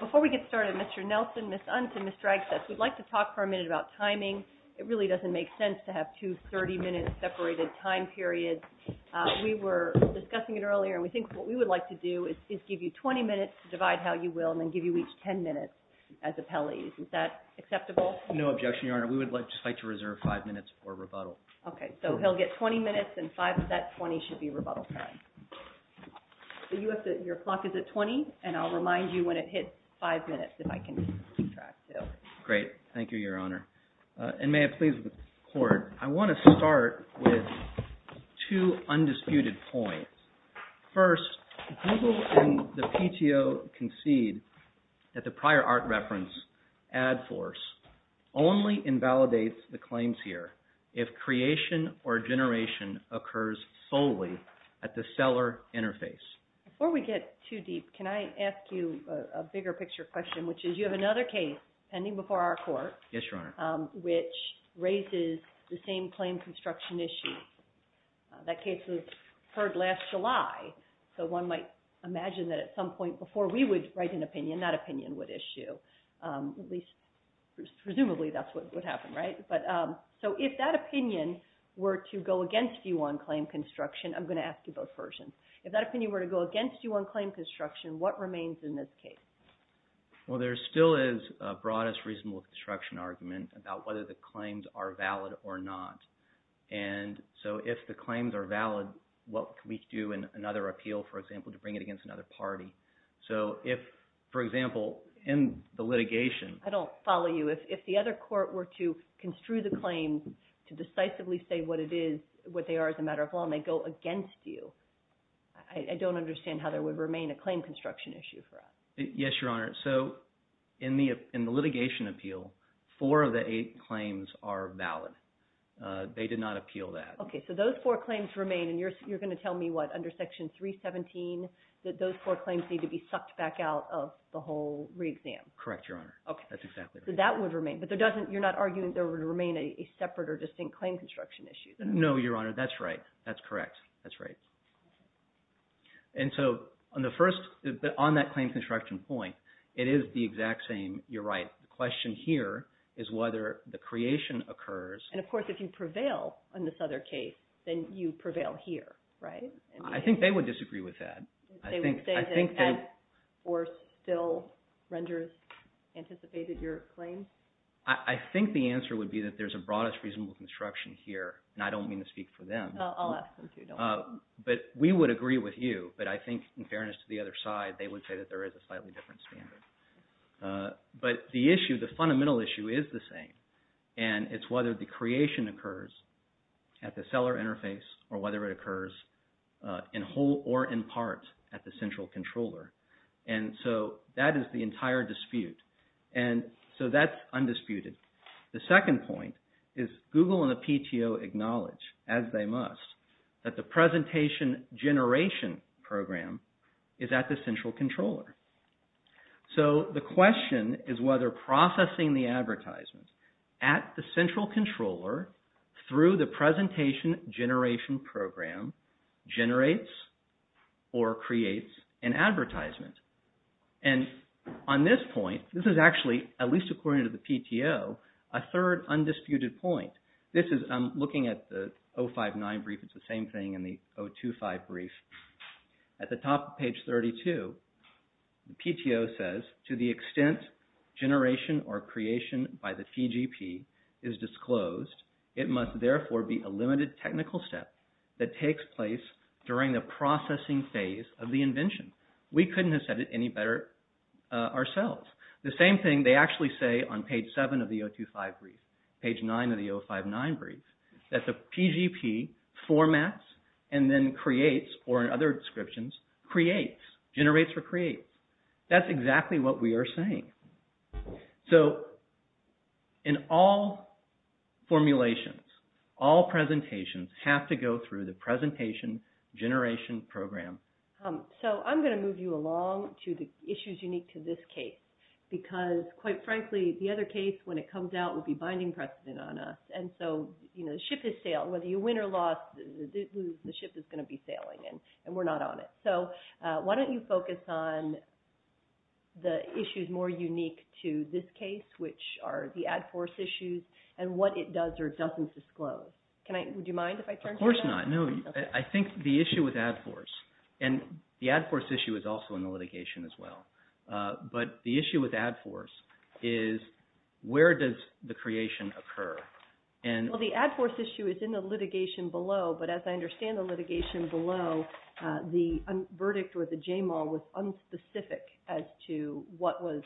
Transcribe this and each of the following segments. Before we get started, Mr. Nelson, Ms. Untz, and Ms. Dragsteth, we'd like to talk for a minute about timing. It really doesn't make sense to have two 30-minute separated time periods. We were discussing it earlier, and we think what we would like to do is give you 20 minutes to divide how you will, and then give you each 10 minutes as appellees. Is that acceptable? No objection, Your Honor. We would just like to reserve five minutes for rebuttal. Okay, so he'll get 20 minutes, and that 20 should be rebuttal time. Your clock is at 20, and I'll remind you when it hits five minutes, if I can keep track. Great. Thank you, Your Honor. And may it please the Court, I want to start with two undisputed points. First, Google and the PTO concede that the prior art reference, Ad Force, only invalidates the claims here if creation or generation occurs solely at the seller interface. Before we get too deep, can I ask you a bigger picture question, which is you have another case pending before our Court, which raises the same claim construction issue. That case was heard last July, so one might imagine that at some point before we would write an So if that opinion were to go against you on claim construction, I'm going to ask you both versions. If that opinion were to go against you on claim construction, what remains in this case? Well, there still is a broadest reasonable construction argument about whether the claims are valid or not. And so if the claims are valid, what can we do in another appeal, for example, to bring it against another party? So if, for example, in the litigation... I don't follow you. If the other Court were to construe the claim to decisively say what it is, what they are as a matter of law, and they go against you, I don't understand how there would remain a claim construction issue for us. Yes, Your Honor. So in the litigation appeal, four of the eight claims are valid. They did not appeal that. Okay, so those four claims remain, and you're going to tell me what, under Section 317, that those four claims need to be sucked back out of the whole re-exam? Correct, Your Honor. That's exactly right. So that would remain. But you're not arguing there would remain a separate or distinct claim construction issue? No, Your Honor. That's right. That's correct. That's right. And so on that claim construction point, it is the exact same. You're right. The question here is whether the creation occurs... And of course, if you prevail in this other case, then you prevail here, right? I think they would disagree with that. They would say they had or still renders anticipated your claim? I think the answer would be that there's a broadest reasonable construction here, and I don't mean to speak for them. I'll ask them to, don't worry. But we would agree with you, but I think, in fairness to the other side, they would say that there is a slightly different standard. But the issue, the fundamental issue, is the same, and it's whether the creation occurs at the seller interface or whether it occurs in whole or in part at the central controller. And so that is the entire dispute. And so that's undisputed. The second point is Google and the PTO acknowledge, as they must, that the presentation generation program is at the central controller. So the question is whether processing the advertisements at the central controller through the presentation generation program generates or creates an advertisement. And on this point, this is actually, at least according to the PTO, a third undisputed point. This is, I'm looking at the 059 brief, it's the same thing in the 025 brief. At the top of page 32, the PTO says, to the extent generation or creation by the PGP is disclosed, it must therefore be a limited technical step that takes place during the processing phase of the invention. We couldn't have said it any better ourselves. The same thing they actually say on page 7 of the 025 brief, page 9 of the 059 brief, that the PGP formats and then creates, or in other descriptions, creates, generates or creates. That's exactly what we are saying. So in all formulations, all presentations have to go through the presentation generation program. So I'm going to move you along to the issues unique to this case. Because, quite frankly, the other case, when it comes out, will be binding precedent on us. And so, you know, the ship has sailed. Whether you win or lost, the ship is going to be sailing and we're not on it. So why don't you focus on the issues more unique to this case, which are the Ad Force issues, and what it does or doesn't disclose. Would you mind if I turn to you? Of course not. No, I think the issue with Ad Force, and the Ad Force issue is also in the litigation as well, but the issue with Ad Force is where does the creation occur? Well, the Ad Force issue is in the litigation below, but as I understand the litigation below, the verdict or the JML was unspecific as to what was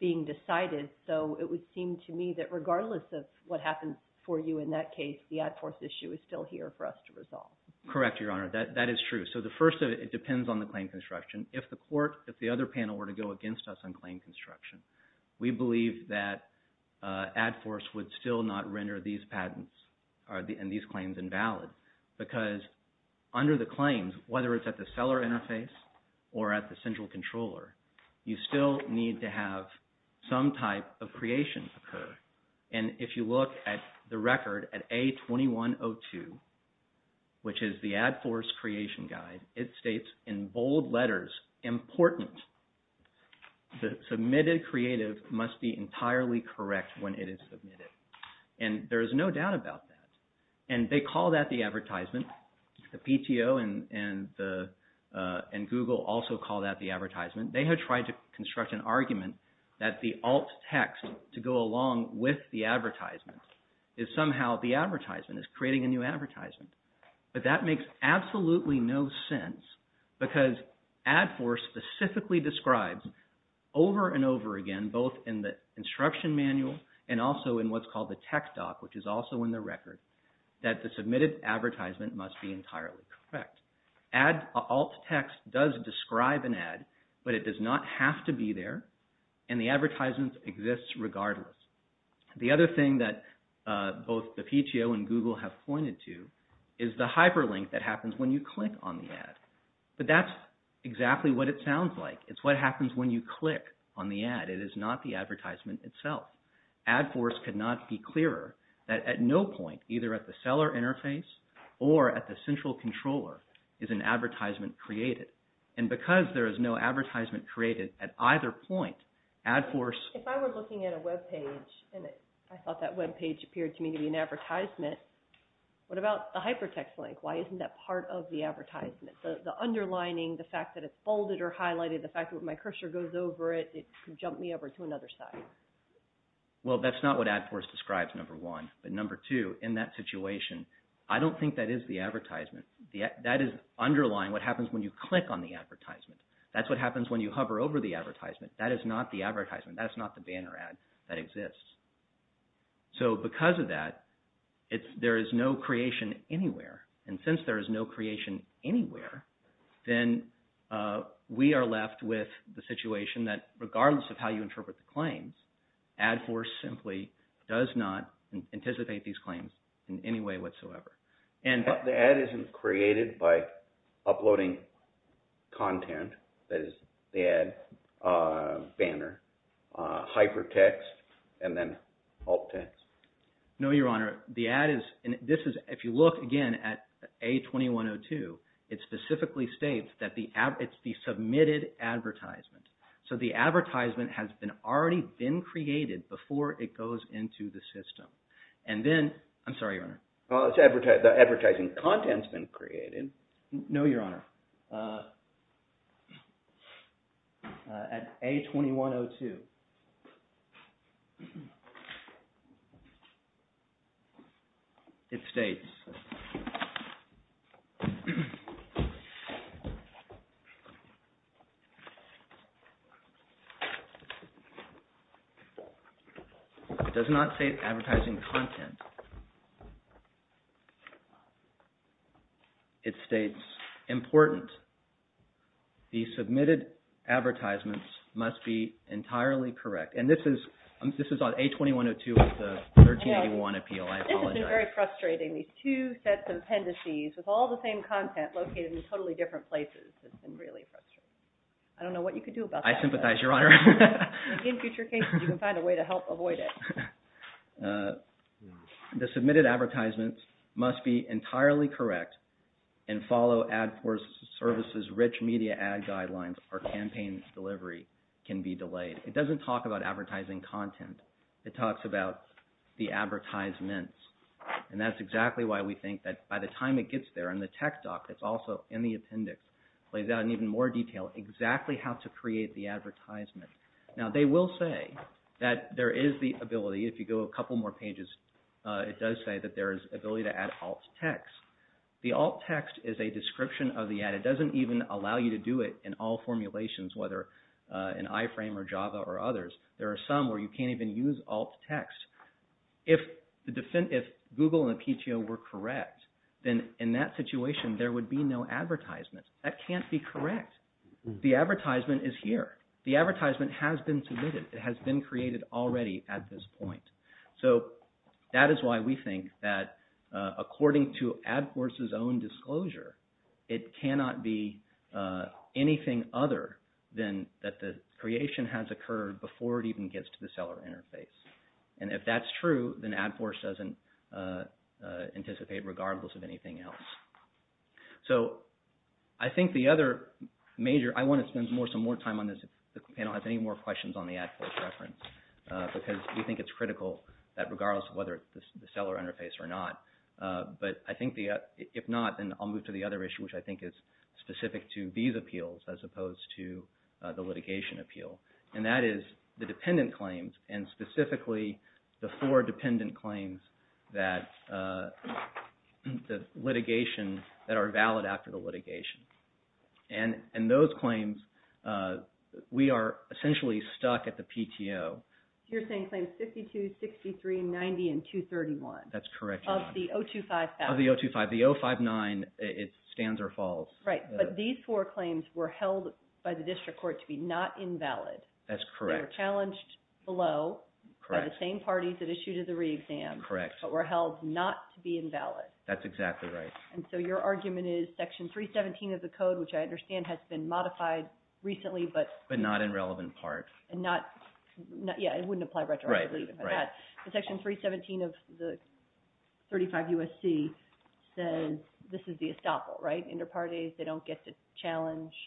being decided. So it would seem to me that regardless of what happened for you in that case, the Ad Force issue is still here for us to resolve. Correct, Your Honor. That is true. So the first of it, it depends on the claim construction. If the court, if the other panel were to go against us on claim construction, we believe that Ad Force would still not render these patents and these claims invalid. Because under the claims, whether it's at the seller interface or at the central controller, you still need to have some type of creation occur. And if you look at the record at A2102, which is the Ad Force creation guide, it states in bold letters, important, the submitted creative must be entirely correct when it is submitted. And there is no doubt about that. And they call that the advertisement. The PTO and Google also call that the advertisement. They have tried to construct an argument that the alt text to go along with the advertisement is somehow the advertisement, is creating a new advertisement. But that makes absolutely no sense because Ad Force specifically describes over and over again, both in the instruction manual and also in what's called the tech doc, which is also in the record, that the submitted advertisement must be entirely correct. Alt text does describe an ad, but it does not have to be there. And the advertisement exists regardless. The other thing that both the PTO and Google have pointed to is the hyperlink that happens when you click on the ad. But that's exactly what it sounds like. It's what happens when you click on the ad. But it is not the advertisement itself. Ad Force cannot be clearer that at no point, either at the seller interface or at the central controller, is an advertisement created. And because there is no advertisement created at either point, Ad Force... If I were looking at a webpage and I thought that webpage appeared to me to be an advertisement, what about the hypertext link? Why isn't that part of the advertisement? The underlining, the fact that it's folded or highlighted, the fact that my cursor goes over it, it could jump me over to another site. Well, that's not what Ad Force describes, number one. But number two, in that situation, I don't think that is the advertisement. That is underlying what happens when you click on the advertisement. That's what happens when you hover over the advertisement. That is not the advertisement. That is not the banner ad that exists. So because of that, there is no creation anywhere. And since there is no creation anywhere, then we are left with the situation that regardless of how you interpret the claims, Ad Force simply does not anticipate these claims in any way whatsoever. The ad isn't created by uploading content, that is the ad, banner, hypertext, and then alt text? No, Your Honor. The ad is – if you look again at A2102, it specifically states that it's the submitted advertisement. So the advertisement has already been created before it goes into the system. And then – I'm sorry, Your Honor. The advertising content has been created. No, Your Honor. At A2102, it states – It does not state advertising content. It states, important, the submitted advertisements must be entirely correct. And this is on A2102 with the 1381 appeal. I apologize. This has been very frustrating. These two sets of appendices with all the same content located in totally different places. It's been really frustrating. I don't know what you could do about that. I sympathize, Your Honor. In future cases, you can find a way to help avoid it. The submitted advertisements must be entirely correct and follow Ad Force services' rich media ad guidelines or campaign delivery can be delayed. It doesn't talk about advertising content. It talks about the advertisements. And that's exactly why we think that by the time it gets there and the tech doc that's also in the appendix lays out in even more detail exactly how to create the advertisement. Now, they will say that there is the ability – if you go a couple more pages, it does say that there is ability to add alt text. The alt text is a description of the ad. It doesn't even allow you to do it in all formulations, whether in iframe or Java or others. There are some where you can't even use alt text. If Google and Apiccio were correct, then in that situation, there would be no advertisements. That can't be correct. The advertisement is here. The advertisement has been submitted. It has been created already at this point. So that is why we think that according to Ad Force's own disclosure, it cannot be anything other than that the creation has occurred before it even gets to the seller interface. And if that's true, then Ad Force doesn't anticipate regardless of anything else. So I think the other major – I want to spend some more time on this if the panel has any more questions on the Ad Force reference, because we think it's critical that regardless of whether it's the seller interface or not – but I think if not, then I'll move to the other issue, which I think is specific to these appeals as opposed to the litigation appeal, and that is the dependent claims, and specifically the four dependent claims that the litigation – that are valid after the litigation. And those claims, we are essentially stuck at the PTO. You're saying claims 52, 63, 90, and 231. That's correct. Of the 025,000. Of the 025. The 059, it stands or falls. Right. But these four claims were held by the district court to be not invalid. That's correct. They were challenged below by the same parties that issued the re-exam. Correct. But were held not to be invalid. That's exactly right. And so your argument is section 317 of the code, which I understand has been modified recently, but – But not in relevant part. And not – yeah, it wouldn't apply retroactively. Right. Right. I'm sorry. I'm just trying to figure this out. The section 317 of the 35 U.S.C. says this is the estoppel, right? Interparties, they don't get to challenge –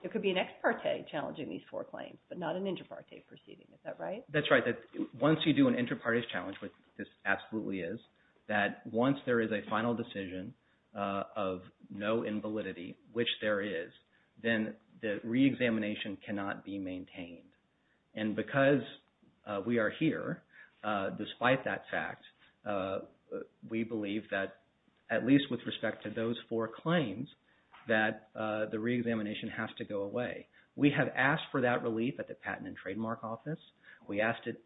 it could be an ex parte challenging these four claims, but not an interparte proceeding. Is that right? That's right. Once you do an interparties challenge, which this absolutely is, that once there is a final decision of no invalidity, which there is, then the re-examination cannot be maintained. And because we are here, despite that fact, we believe that at least with respect to those four claims, that the re-examination has to go away. We have asked for that relief at the Patent and Trademark Office. We asked it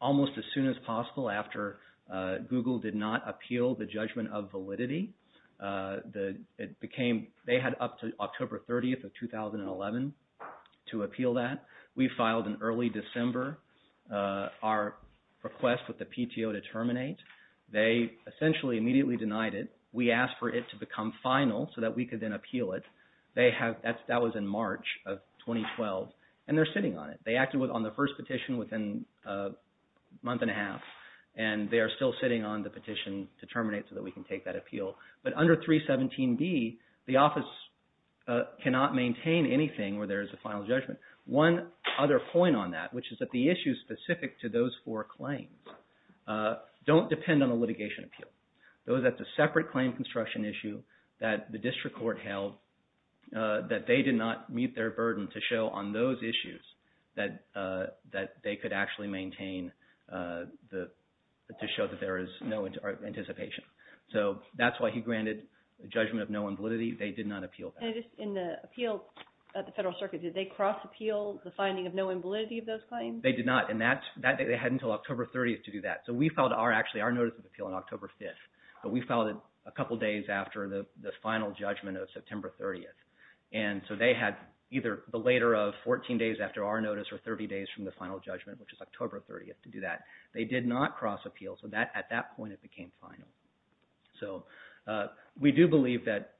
almost as soon as possible after Google did not appeal the judgment of validity. It became – they had up to October 30th of 2011 to appeal that. We filed in early December our request with the PTO to terminate. They essentially immediately denied it. We asked for it to become final so that we could then appeal it. They have – that was in March of 2012, and they're sitting on it. They acted on the first petition within a month and a half, and they are still sitting on the petition to terminate so that we can take that appeal. But under 317B, the office cannot maintain anything where there is a final judgment. One other point on that, which is that the issues specific to those four claims don't depend on a litigation appeal. That's a separate claim construction issue that the district court held that they did not meet their burden to show on those issues that they could actually maintain to show that there is no anticipation. So that's why he granted a judgment of no on validity. They did not appeal that. And in the appeal at the Federal Circuit, did they cross-appeal the finding of no on validity of those claims? They did not, and that – they had until October 30th to do that. So we filed our – actually our notice of appeal on October 5th, but we filed it a couple days after the final judgment of September 30th. And so they had either the later of 14 days after our notice or 30 days from the final judgment, which is October 30th, to do that. They did not cross-appeal, so at that point it became final. So we do believe that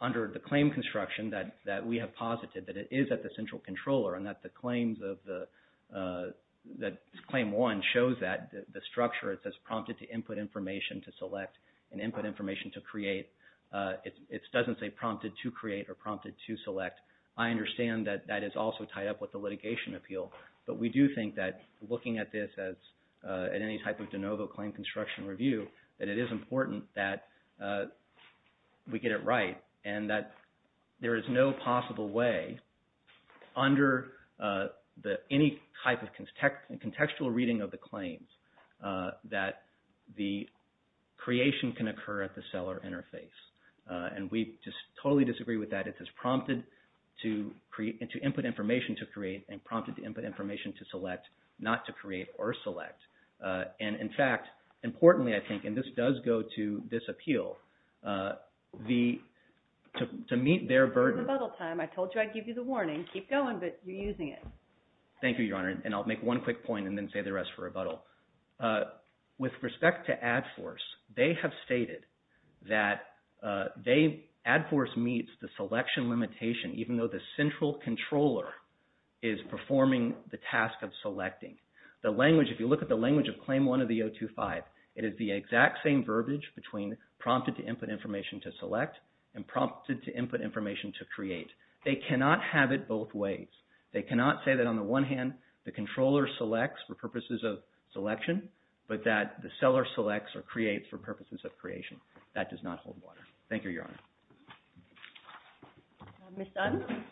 under the claim construction that we have posited that it is at the central controller and that the claims of the – that claim one shows that the structure. It says prompted to input information to select and input information to create. It doesn't say prompted to create or prompted to select. I understand that that is also tied up with the litigation appeal, but we do think that looking at this as – at any type of de novo claim construction review, that it is important that we get it right and that there is no possible way under the – any type of contextual reading of the claims that the creation can occur at the seller interface. And we just totally disagree with that. It says prompted to create – to input information to create and prompted to input information to select, not to create or select. And in fact, importantly I think, and this does go to this appeal, the – to meet their burden – It's rebuttal time. I told you I'd give you the warning. Keep going, but you're using it. Thank you, Your Honor, and I'll make one quick point and then say the rest for rebuttal. With respect to Ad Force, they have stated that they – Ad Force meets the selection limitation even though the central controller is performing the task of selecting. The language – if you look at the language of Claim 1 of the 025, it is the exact same verbiage between prompted to input information to select and prompted to input information to create. They cannot have it both ways. They cannot say that on the one hand, the controller selects for purposes of selection, but that the seller selects or creates for purposes of creation. That does not hold water. Thank you, Your Honor. I'll move on.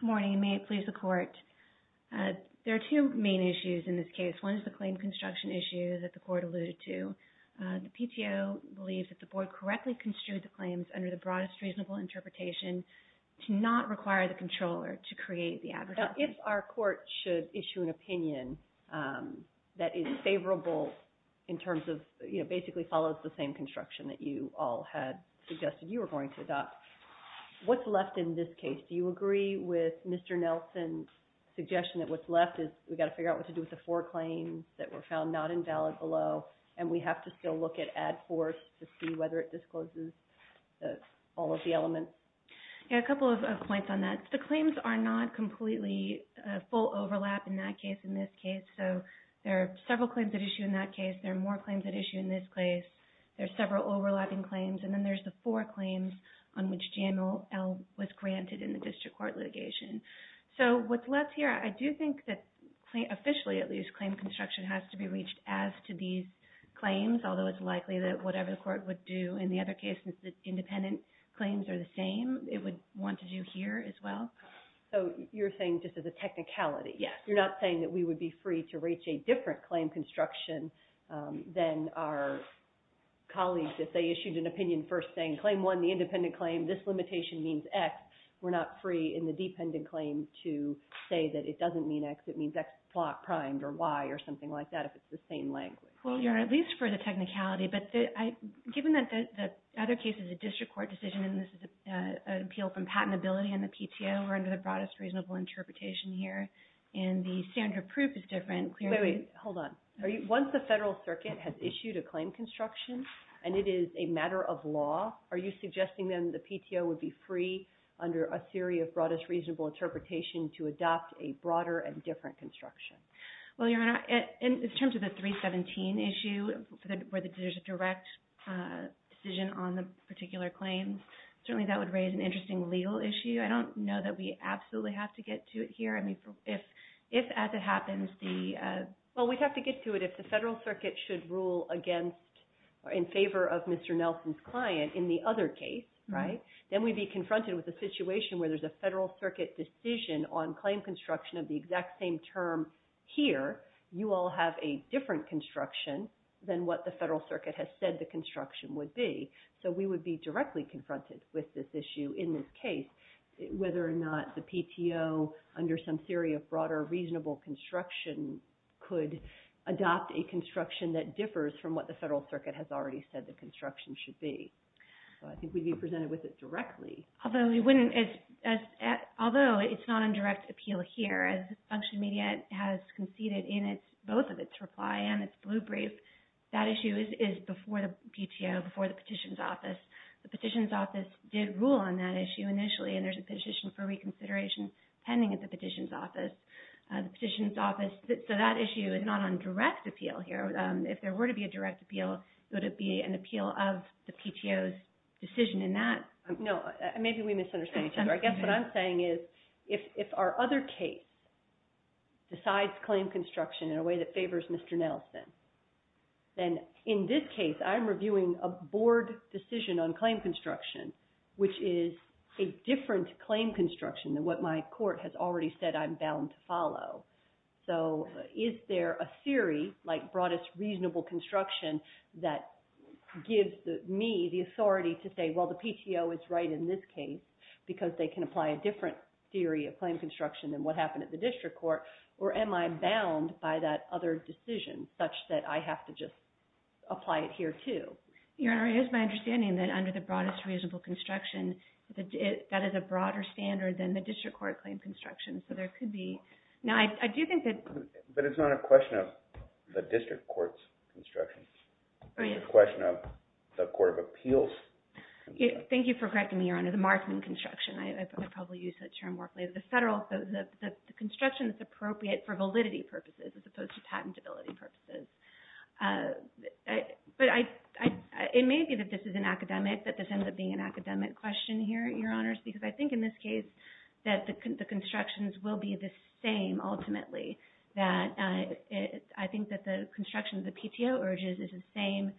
Good morning, and may it please the Court. There are two main issues in this case. One is the claim construction issue that the Court alluded to. The PTO believes that the Board correctly construed the claims under the broadest reasonable interpretation to not require the controller to create the advocacy. If our Court should issue an opinion that is favorable in terms of – basically follows the same construction that you all had suggested you were going to adopt, what's left in this case? Do you agree with Mr. Nelson's suggestion that what's left is we've got to figure out what to do with the four claims that were found not invalid below, and we have to still look at Ad Force to see whether it discloses all of the elements? Yeah, a couple of points on that. The claims are not completely full overlap in that case and this case. So there are several claims at issue in that case. There are more claims at issue in this case. There are several overlapping claims. And then there's the four claims on which GMLL was granted in the district court litigation. So what's left here, I do think that officially, at least, claim construction has to be reached as to these claims, although it's likely that whatever the Court would do in the other case, since the independent claims are the same, it would want to do here as well. So you're saying just as a technicality. Yes. You're not saying that we would be free to reach a different claim construction than our colleagues if they issued an opinion first saying claim one, the independent claim, this limitation means X. We're not free in the dependent claim to say that it doesn't mean X, it means X-plot primed or Y or something like that if it's the same language. Well, Your Honor, at least for the technicality. But given that the other case is a district court decision and this is an appeal from patentability and the PTO, we're under the broadest reasonable interpretation here, and the standard of proof is different. Wait, wait. Hold on. Once the Federal Circuit has issued a claim construction and it is a matter of law, are you suggesting then the PTO would be free under a theory of broadest reasonable interpretation to adopt a broader and different construction? Well, Your Honor, in terms of the 317 issue where there's a direct decision on the particular claims, certainly that would raise an interesting legal issue. I don't know that we absolutely have to get to it here. I mean, if as it happens the... Well, we'd have to get to it if the Federal Circuit should rule against or in favor of Mr. Nelson's client in the other case, right? Then we'd be confronted with a situation where there's a Federal Circuit decision on claim construction of the exact same term here, you all have a different construction than what the Federal Circuit has said the construction would be. So we would be directly confronted with this issue in this case, whether or not the PTO under some theory of broader reasonable construction could adopt a construction that differs from what the Federal Circuit has already said the construction should be. So I think we'd be presented with it directly. Although it's not on direct appeal here, as Function Media has conceded in both of its reply and its blue brief, that issue is before the PTO, before the petition's office. The petition's office did rule on that issue initially, and there's a petition for reconsideration pending at the petition's office. The petition's office... So that issue is not on direct appeal here. If there were to be a direct appeal, would it be an appeal of the PTO's decision in that? No, maybe we misunderstand each other. I guess what I'm saying is, if our other case decides claim construction in a way that favors Mr. Nelson, then in this case, I'm reviewing a board decision on claim construction, which is a different claim construction than what my court has already said I'm bound to follow. So is there a theory, like broadest reasonable construction, that gives me the authority to say, well, the PTO is right in this case, because they can apply a different theory of claim construction than what happened at the district court? Or am I bound by that other decision, such that I have to just apply it here, too? Your Honor, it is my understanding that under the broadest reasonable construction, that is a broader standard than the district court claim construction. So there could be... Now, I do think that... But it's not a question of the district court's construction. It's a question of the court of appeals. Thank you for correcting me, Your Honor. The marketing construction, I probably use that term more. The construction is appropriate for validity purposes, as opposed to patentability purposes. But it may be that this is an academic, that this ends up being an academic question here, Your Honors, because I think in this case, that the constructions will be the same, ultimately. I think that the construction the PTO urges is the same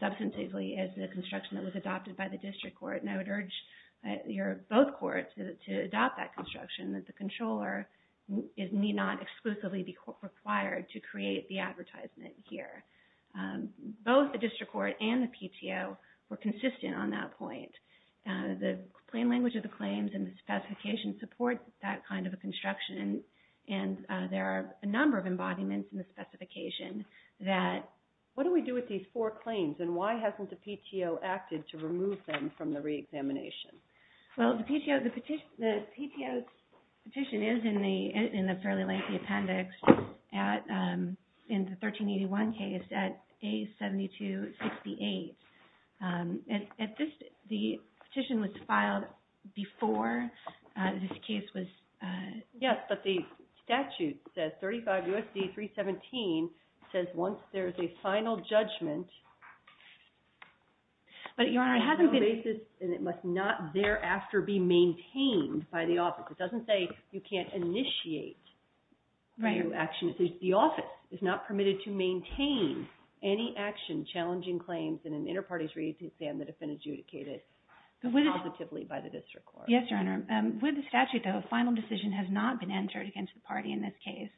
substantively as the construction that was adopted by the district court. And I would urge both courts to adopt that construction, that the controller need not exclusively be required to create the advertisement here. Both the district court and the PTO were consistent on that point. The plain language of the claims and the specification supports that kind of a construction. And there are a number of embodiments in the specification that... What do we do with these four claims? And why hasn't the PTO acted to remove them from the reexamination? Well, the PTO's petition is in the fairly lengthy appendix in the 1381 case at A7268. And the petition was filed before this case was... Yes, but the statute says, 35 U.S.C. 317, says once there is a final judgment... But, Your Honor, it hasn't been... And it must not thereafter be maintained by the office. It doesn't say you can't initiate new actions. The office is not permitted to maintain any action challenging claims in an inter-parties reexamination that have been adjudicated positively by the district court. Yes, Your Honor. With the statute, though, a final decision has not been entered against the party in this case.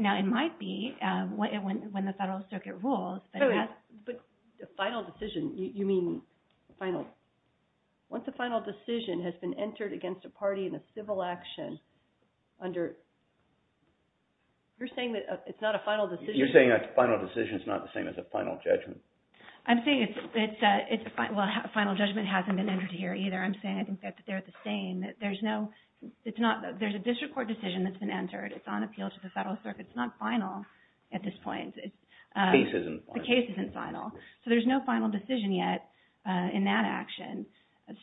Now, it might be when the Federal Circuit rules, but... But final decision, you mean final... Once a final decision has been entered against a party in a civil action under... You're saying that it's not a final decision... You're saying a final decision is not the same as a final judgment. I'm saying it's a... Well, a final judgment hasn't been entered here either. I'm saying I think that they're the same. There's no... It's not... There's a district court decision that's been entered. It's on appeal to the Federal Circuit. It's not final at this point. The case isn't final. The case isn't final. So there's no final decision yet in that action.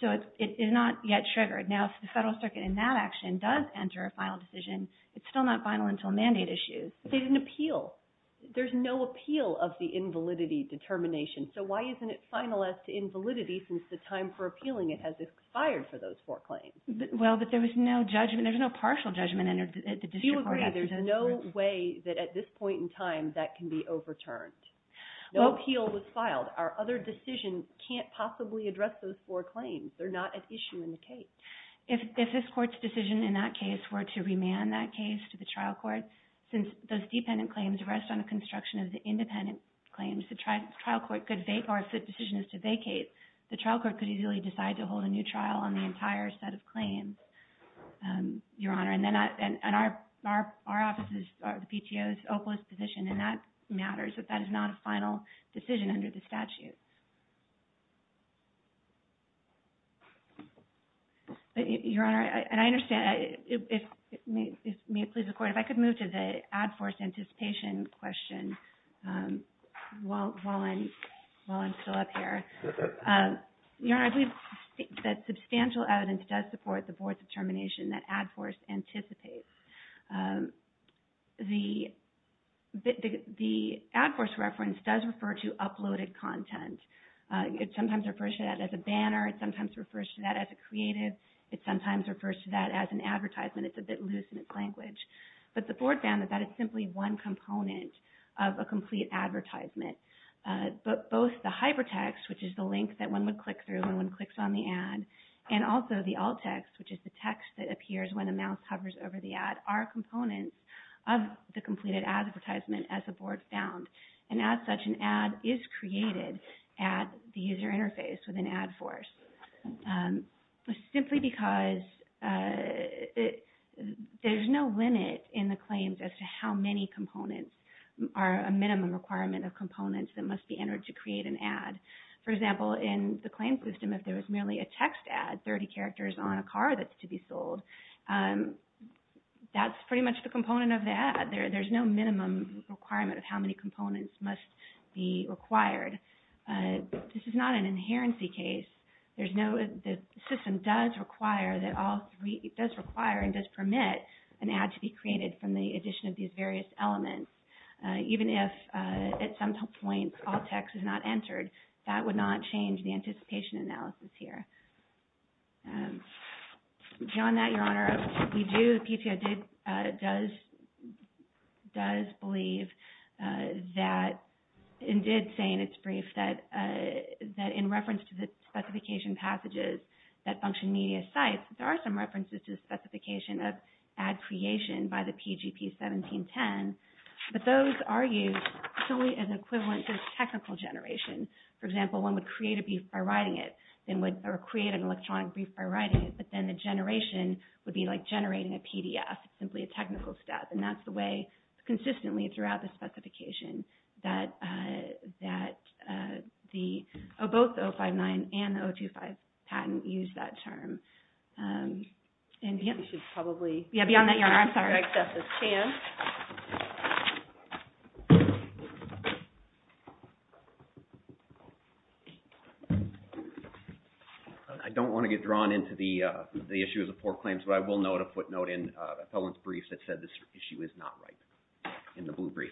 So it's not yet triggered. Now, if the Federal Circuit in that action does enter a final decision, it's still not final until a mandate issue. But they didn't appeal. There's no appeal of the invalidity determination. So why isn't it final as to invalidity since the time for appealing it has expired for those four claims? Well, but there was no judgment. There's no partial judgment entered at the district court. You agree. There's no way that at this point in time that can be overturned. No appeal was filed. They're not at issue in the case. If this court's decision in that case were to remand that case to the trial court, since those dependent claims rest on the construction of the independent claims, the trial court could vacate... Or if the decision is to vacate, the trial court could easily decide to hold a new trial on the entire set of claims, Your Honor. And our office is... The PTO's opalist position, and that matters. But that is not a final decision under the statute. Your Honor, and I understand... May it please the court, if I could move to the ad force anticipation question while I'm still up here. Your Honor, I believe that substantial evidence does support the board's determination that ad force anticipates. The ad force reference does refer to uploaded content. It sometimes refers to that as a banner. It sometimes refers to that as a creative. It sometimes refers to that as an advertisement. It's a bit loose in its language. But the board found that that is simply one component of a complete advertisement. But both the hypertext, which is the link that one would click through when one clicks on the ad, and also the alt text, which is the text that appears when a mouse hovers over the ad, are components of the completed advertisement as the board found. And as such, an ad is created at the user interface with an ad force. Simply because there's no limit in the claims as to how many components are a minimum requirement of components that must be entered to create an ad. For example, in the claim system, if there was merely a text ad, 30 characters on a car that's to be sold, that's pretty much the component of the ad. There's no minimum requirement of how many components must be required. This is not an inherency case. The system does require and does permit an ad to be created from the addition of these various elements. Even if at some point alt text is not entered, that would not change the anticipation analysis here. Beyond that, Your Honor, we do, PTO does believe that, and did say in its brief, that in reference to the specification passages that function media sites, there are some references to the specification of ad creation by the PGP 1710, but those are used solely as equivalent to technical generation. For example, one would create a brief by writing it, or create an electronic brief by writing it, but then the generation would be like generating a PDF. It's simply a technical step, and that's the way consistently throughout the specification that both the 059 and the 025 patent use that term. Beyond that, Your Honor, I'm sorry, I accept this chance. I don't want to get drawn into the issues of poor claims, but I will note a footnote in a felon's brief that said this issue is not right, in the blue brief.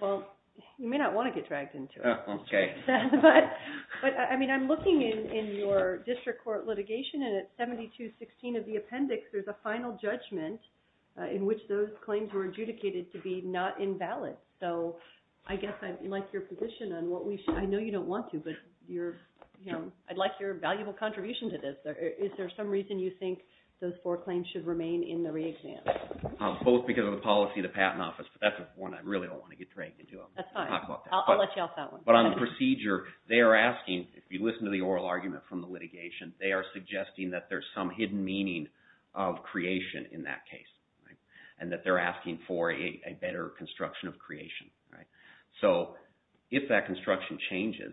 Well, you may not want to get dragged into it. But, I mean, I'm looking in your district court litigation, and at 7216 of the appendix, there's a final judgment in which those claims were adjudicated to be not invalid. So I guess I'd like your position on what we should, I know you don't want to, but I'd like your valuable contribution to this. Is there some reason you think those four claims should remain in the re-exam? Both because of the policy of the Patent Office, but that's one I really don't want to get dragged into. That's fine. I'll let you off that one. But on the procedure, they are asking, if you listen to the oral argument from the litigation, they are suggesting that there's some hidden meaning of creation in that case, and that they're asking for a better construction of creation. So if that construction changes,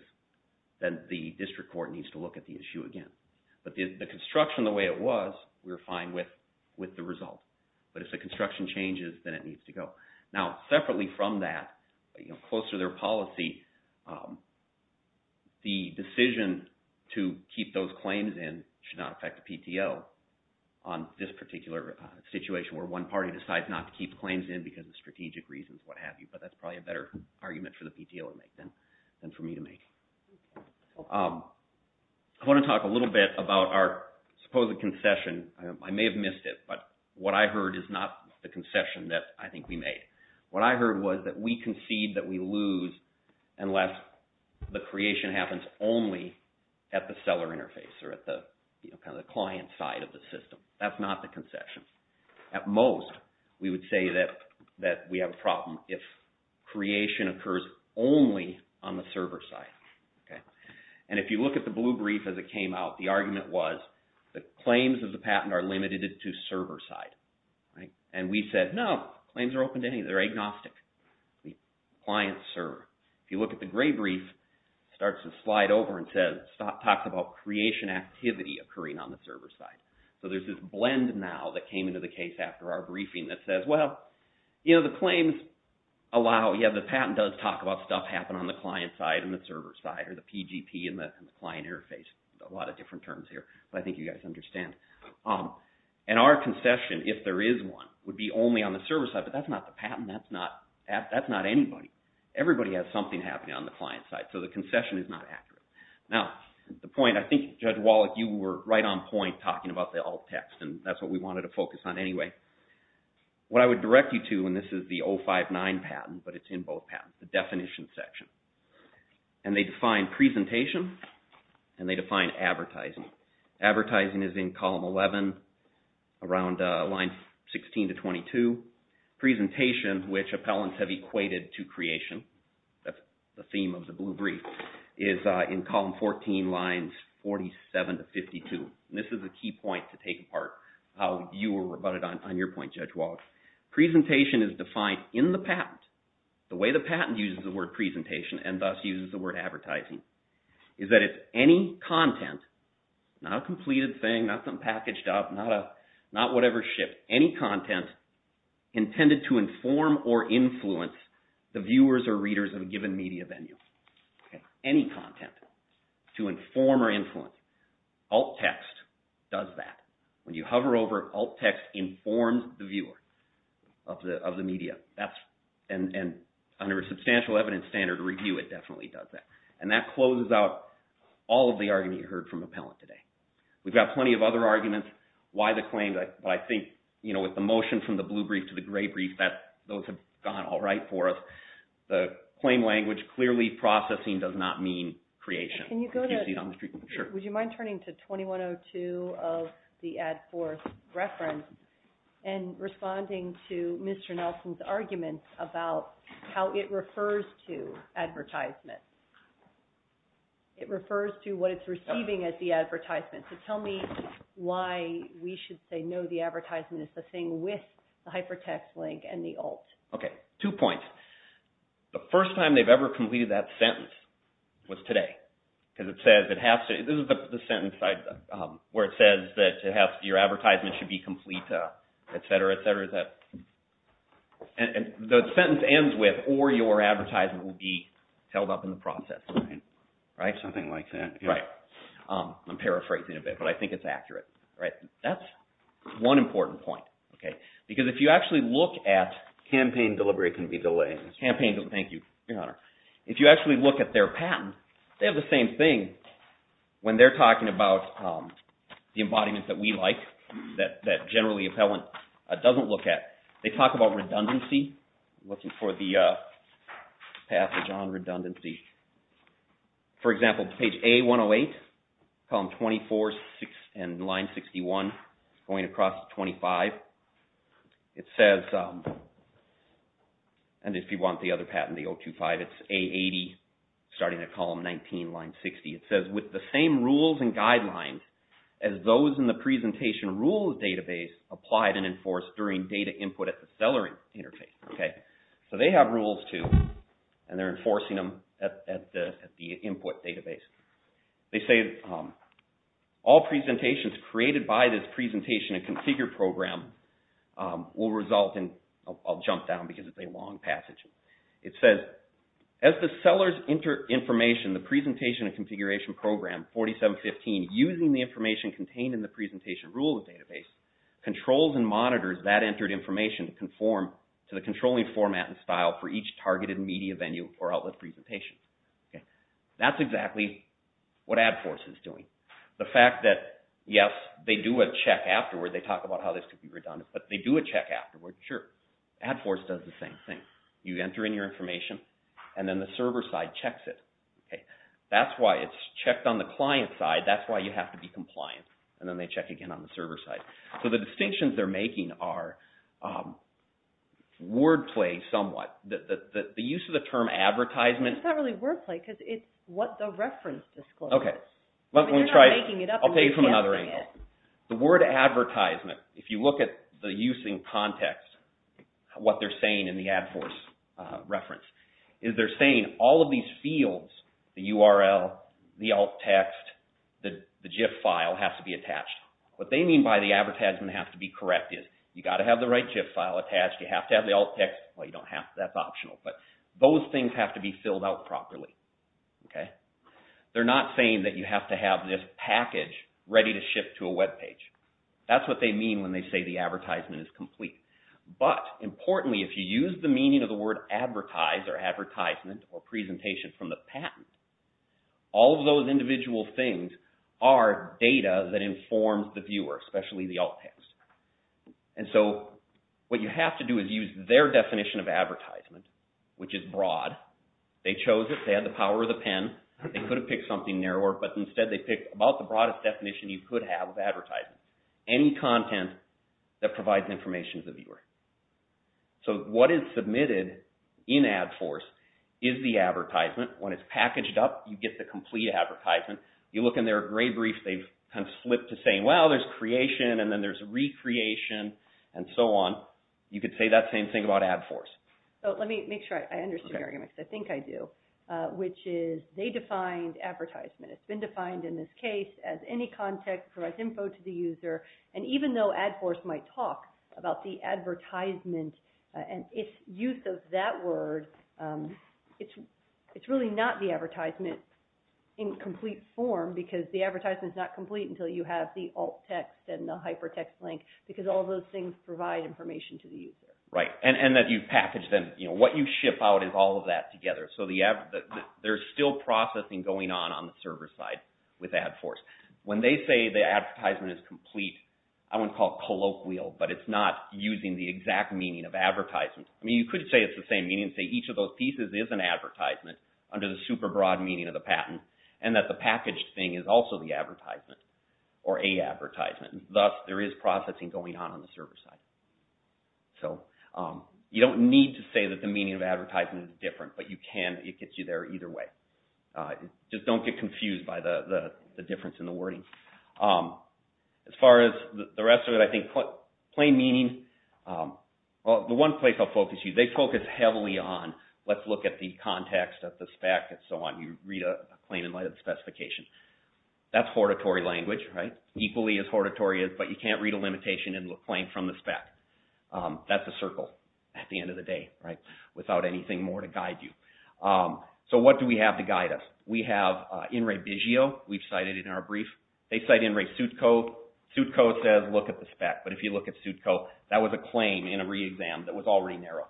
then the district court needs to look at the issue again. But the construction, the way it was, we were fine with the result. But if the construction changes, then it needs to go. Now, separately from that, close to their policy, the decision to keep those claims in should not affect the PTO on this particular situation where one party decides not to keep claims in because of strategic reasons, what have you. But that's probably a better argument for the PTO to make than for me to make. I want to talk a little bit about our supposed concession. I may have missed it, but what I heard is not the concession that I think we made. What I heard was that we concede that we lose unless the creation happens only at the seller interface or at the client side of the system. That's not the concession. At most, we would say that we have a problem if creation occurs only on the server side. And if you look at the blue brief as it came out, the argument was the claims of the patent are limited to server side. And we said, no, claims are open to anybody. They're agnostic. The client server. If you look at the gray brief, it starts to slide over and talks about creation activity occurring on the server side. So there's this blend now that came into the case after our briefing that says, well, you know, the claims allow, yeah, the patent does talk about stuff happening on the client side and the server side or the PGP and the client interface. There's a lot of different terms here, but I think you guys understand. And our concession, if there is one, would be only on the server side. But that's not the patent. That's not anybody. Everybody has something happening on the client side. So the concession is not accurate. Now, the point, I think, Judge Wallach, you were right on point talking about the alt text, and that's what we wanted to focus on anyway. What I would direct you to, and this is the 059 patent, but it's in both patents, the definition section. And they define presentation and they define advertising. Advertising is in column 11, around line 16 to 22. Presentation, which appellants have equated to creation, that's the theme of the blue brief, is in column 14, lines 47 to 52. And this is a key point to take apart. You were right on your point, Judge Wallach. Presentation is defined in the patent. The way the patent uses the word presentation and thus uses the word advertising is that it's any content, not a completed thing, not something packaged up, not whatever shipped, any content intended to inform or influence the viewers or readers of a given media venue. Any content to inform or influence. Alt text does that. When you hover over, alt text informs the viewer of the media. And under a substantial evidence standard review, it definitely does that. And that closes out all of the argument you heard from appellant today. We've got plenty of other arguments why the claims, but I think with the motion from the blue brief to the gray brief, those have gone all right for us. The claim language clearly processing does not mean creation. Would you mind turning to 2102 of the Ad Force reference and responding to Mr. Nelson's argument about how it refers to advertisement. It refers to what it's receiving as the advertisement. So tell me why we should say no, the advertisement is the thing with the hypertext link and the alt. Okay, two points. The first time they've ever completed that sentence was today. This is the sentence where it says that your advertisement should be complete, et cetera, et cetera. The sentence ends with, or your advertisement will be held up in the process. Something like that. I'm paraphrasing a bit, but I think it's accurate. That's one important point. Because if you actually look at campaign delivery, it can be delayed. Thank you, Your Honor. If you actually look at their patent, they have the same thing when they're talking about the embodiment that we like that generally appellant doesn't look at. They talk about redundancy. Looking for the passage on redundancy. For example, page A108, column 24 and line 61, going across 25, it says, and if you want the other patent, the 025, it's A80, starting at column 19, line 60. It says, with the same rules and guidelines as those in the presentation rules database applied and enforced during data input at the seller interface. They have rules, too, and they're enforcing them at the input database. They say, all presentations created by this presentation and configure program will result in, I'll jump down because it's a long passage. It says, as the seller's information, the presentation and configuration program, 4715, using the information contained in the presentation rules database, controls and monitors that entered information to conform to the controlling format and style for each targeted media venue or outlet presentation. That's exactly what AdForce is doing. The fact that, yes, they do a check afterward. They talk about how this could be redundant, but they do a check afterward. Sure, AdForce does the same thing. You enter in your information, and then the server side checks it. That's why it's checked on the client side. That's why you have to be compliant. Then they check again on the server side. The distinctions they're making are wordplay somewhat. The use of the term advertisement. It's not really wordplay because it's what the reference discloses. You're not making it up. I'll take it from another angle. The word advertisement, if you look at the use in context, what they're saying in the AdForce reference, is they're saying all of these fields, the URL, the alt text, the GIF file has to be attached. What they mean by the advertisement has to be corrected. You've got to have the right GIF file attached. You have to have the alt text. Well, you don't have to. That's optional. Those things have to be filled out properly. They're not saying that you have to have this package ready to ship to a web page. That's what they mean when they say the advertisement is complete. But, importantly, if you use the meaning of the word advertise or advertisement or are data that informs the viewer, especially the alt text. And so what you have to do is use their definition of advertisement, which is broad. They chose it. They had the power of the pen. They could have picked something narrower, but instead they picked about the broadest definition you could have of advertisement. Any content that provides information to the viewer. So what is submitted in AdForce is the advertisement. When it's packaged up, you get the complete advertisement. You look in their gray brief, they've kind of slipped to saying, well, there's creation and then there's recreation and so on. You could say that same thing about AdForce. So let me make sure I understand your argument because I think I do, which is they defined advertisement. It's been defined in this case as any content that provides info to the user. And even though AdForce might talk about the advertisement and its use of that word, it's really not the advertisement in complete form because the advertisement is not complete until you have the alt text and the hypertext link because all those things provide information to the user. Right. And that you package them. What you ship out is all of that together. So there's still processing going on on the server side with AdForce. When they say the advertisement is complete, I want to call it colloquial, but it's not using the exact meaning of advertisement. I mean, you could say it's the same meaning. Say each of those pieces is an advertisement under the super broad meaning of the patent and that the packaged thing is also the advertisement or a advertisement. Thus, there is processing going on on the server side. So you don't need to say that the meaning of advertisement is different, but you can. It gets you there either way. Just don't get confused by the difference in the wording. As far as the rest of it, I think plain meaning, the one place I'll focus you, they focus heavily on let's look at the context of the spec and so on. You read a claim in light of the specification. That's hortatory language, right? Equally as hortatory as, but you can't read a limitation in the claim from the spec. That's a circle at the end of the day, right? Without anything more to guide you. So what do we have to guide us? We have In Re Bisio. We've cited it in our brief. They cite In Re Sutco. Sutco says look at the spec. But if you look at Sutco, that was a claim in a re-exam that was already narrow.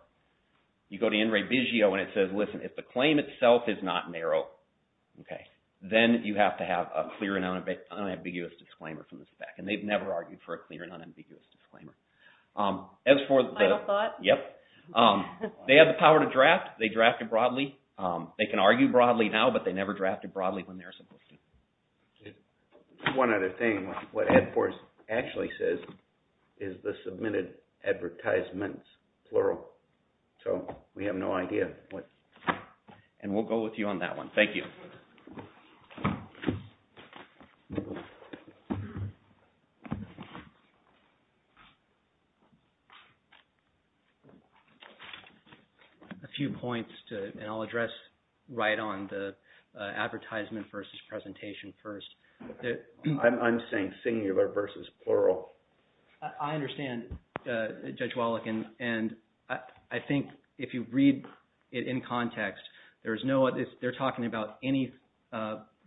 You go to In Re Bisio and it says, listen, if the claim itself is not narrow, then you have to have a clear and unambiguous disclaimer from the spec. And they've never argued for a clear and unambiguous disclaimer. Final thought? Yep. They have the power to draft. They drafted broadly. They can argue broadly now, but they never drafted broadly when they're supposed to. One other thing. What Ed Force actually says is the submitted advertisements, plural. So we have no idea what. And we'll go with you on that one. Thank you. A few points, and I'll address right on the advertisement versus presentation first. I'm saying singular versus plural. I understand, Judge Wallach, and I think if you read it in context, there's no, they're not talking about any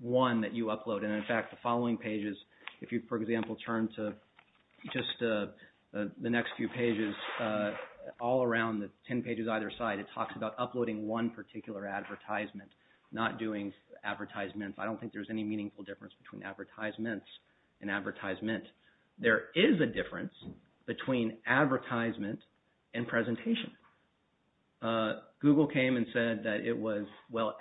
one that you upload. And in fact, the following pages, if you, for example, turn to just the next few pages, all around the 10 pages either side, it talks about uploading one particular advertisement, not doing advertisements. I don't think there's any meaningful difference between advertisements and advertisement. There is a difference between advertisement and presentation. Google came and said that it was, well,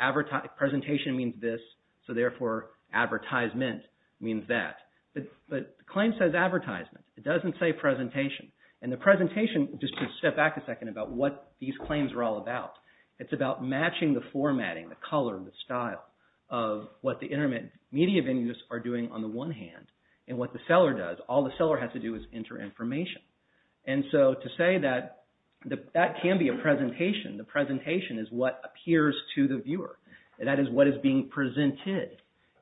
presentation means this, so therefore advertisement means that. But the claim says advertisement. It doesn't say presentation. And the presentation, just to step back a second about what these claims are all about, it's about matching the formatting, the color, the style of what the internet media venues are doing on the one hand, and what the seller does. All the seller has to do is enter information. And so to say that that can be a presentation, the presentation is what appears to the viewer. That is what is being presented.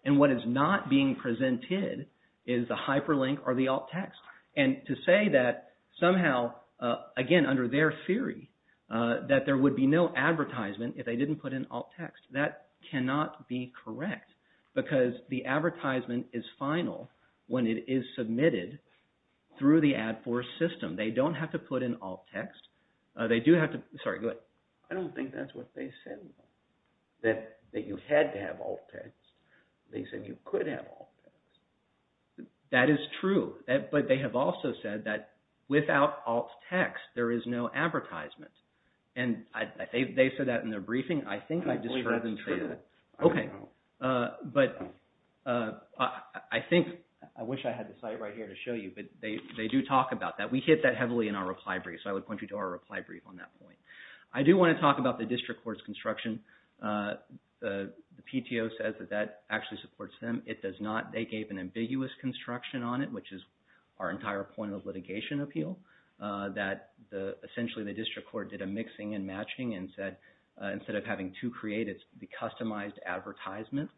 And what is not being presented is the hyperlink or the alt text. And to say that somehow, again, under their theory, that there would be no advertisement if they didn't put in alt text, that cannot be correct. Because the advertisement is final when it is submitted through the AdForce system. They don't have to put in alt text. They do have to, sorry, go ahead. I don't think that's what they said, that you had to have alt text. They said you could have alt text. That is true. But they have also said that without alt text, there is no advertisement. And they said that in their briefing. I think I just heard them say that. Okay. But I think, I wish I had the site right here to show you, but they do talk about that. We hit that heavily in our reply brief. So I would point you to our reply brief on that point. I do want to talk about the district court's construction. The PTO says that that actually supports them. It does not. They gave an ambiguous construction on it, which is our entire point of litigation appeal, that essentially the district court did a mixing and matching and said, instead of having to create it, it's the customized advertisement.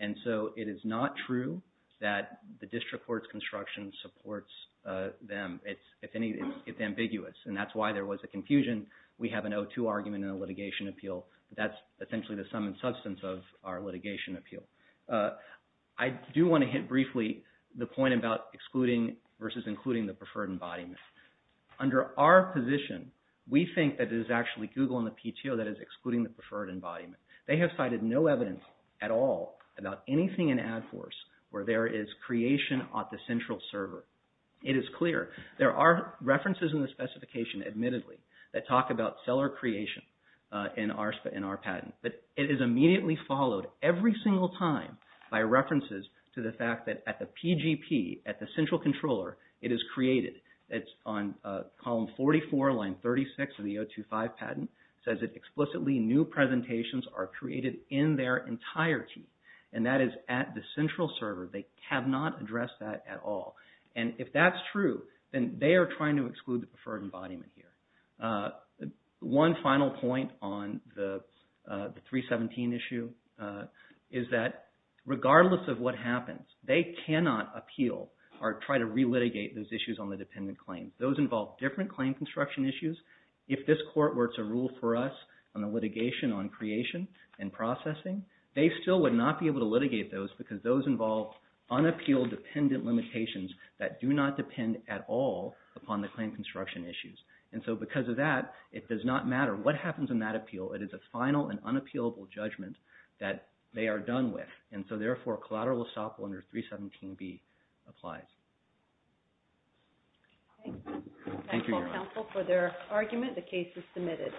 And so it is not true that the district court's construction supports them. It's ambiguous. And that's why there was a confusion. We have an O2 argument in the litigation appeal. That's essentially the sum and substance of our litigation appeal. I do want to hit briefly the point about excluding versus including the preferred embodiment. Under our position, we think that it is actually Google and the PTO that is excluding the preferred embodiment. They have cited no evidence at all about anything in AdForce where there is creation at the central server. It is clear. There are references in the specification, admittedly, that talk about seller creation in our patent. But it is immediately followed every single time by references to the fact that at the PGP, at the central controller, it is created. It's on column 44, line 36 of the O2-5 patent. Explicitly new presentations are created in their entirety. And that is at the central server. They have not addressed that at all. And if that's true, then they are trying to exclude the preferred embodiment here. One final point on the 317 issue is that regardless of what happens, they cannot appeal or try to re-litigate those issues on the dependent claim. Those involve different claim construction issues. If this court were to rule for us on the litigation on creation and processing, they still would not be able to litigate those because those involve unappealed dependent limitations that do not depend at all upon the claim construction issues. And so because of that, it does not matter what happens in that appeal. It is a final and unappealable judgment that they are done with. And so therefore, collateral estoppel under 317B applies. Thank you, Your Honor. Thank you, counsel, for their argument. The case is submitted.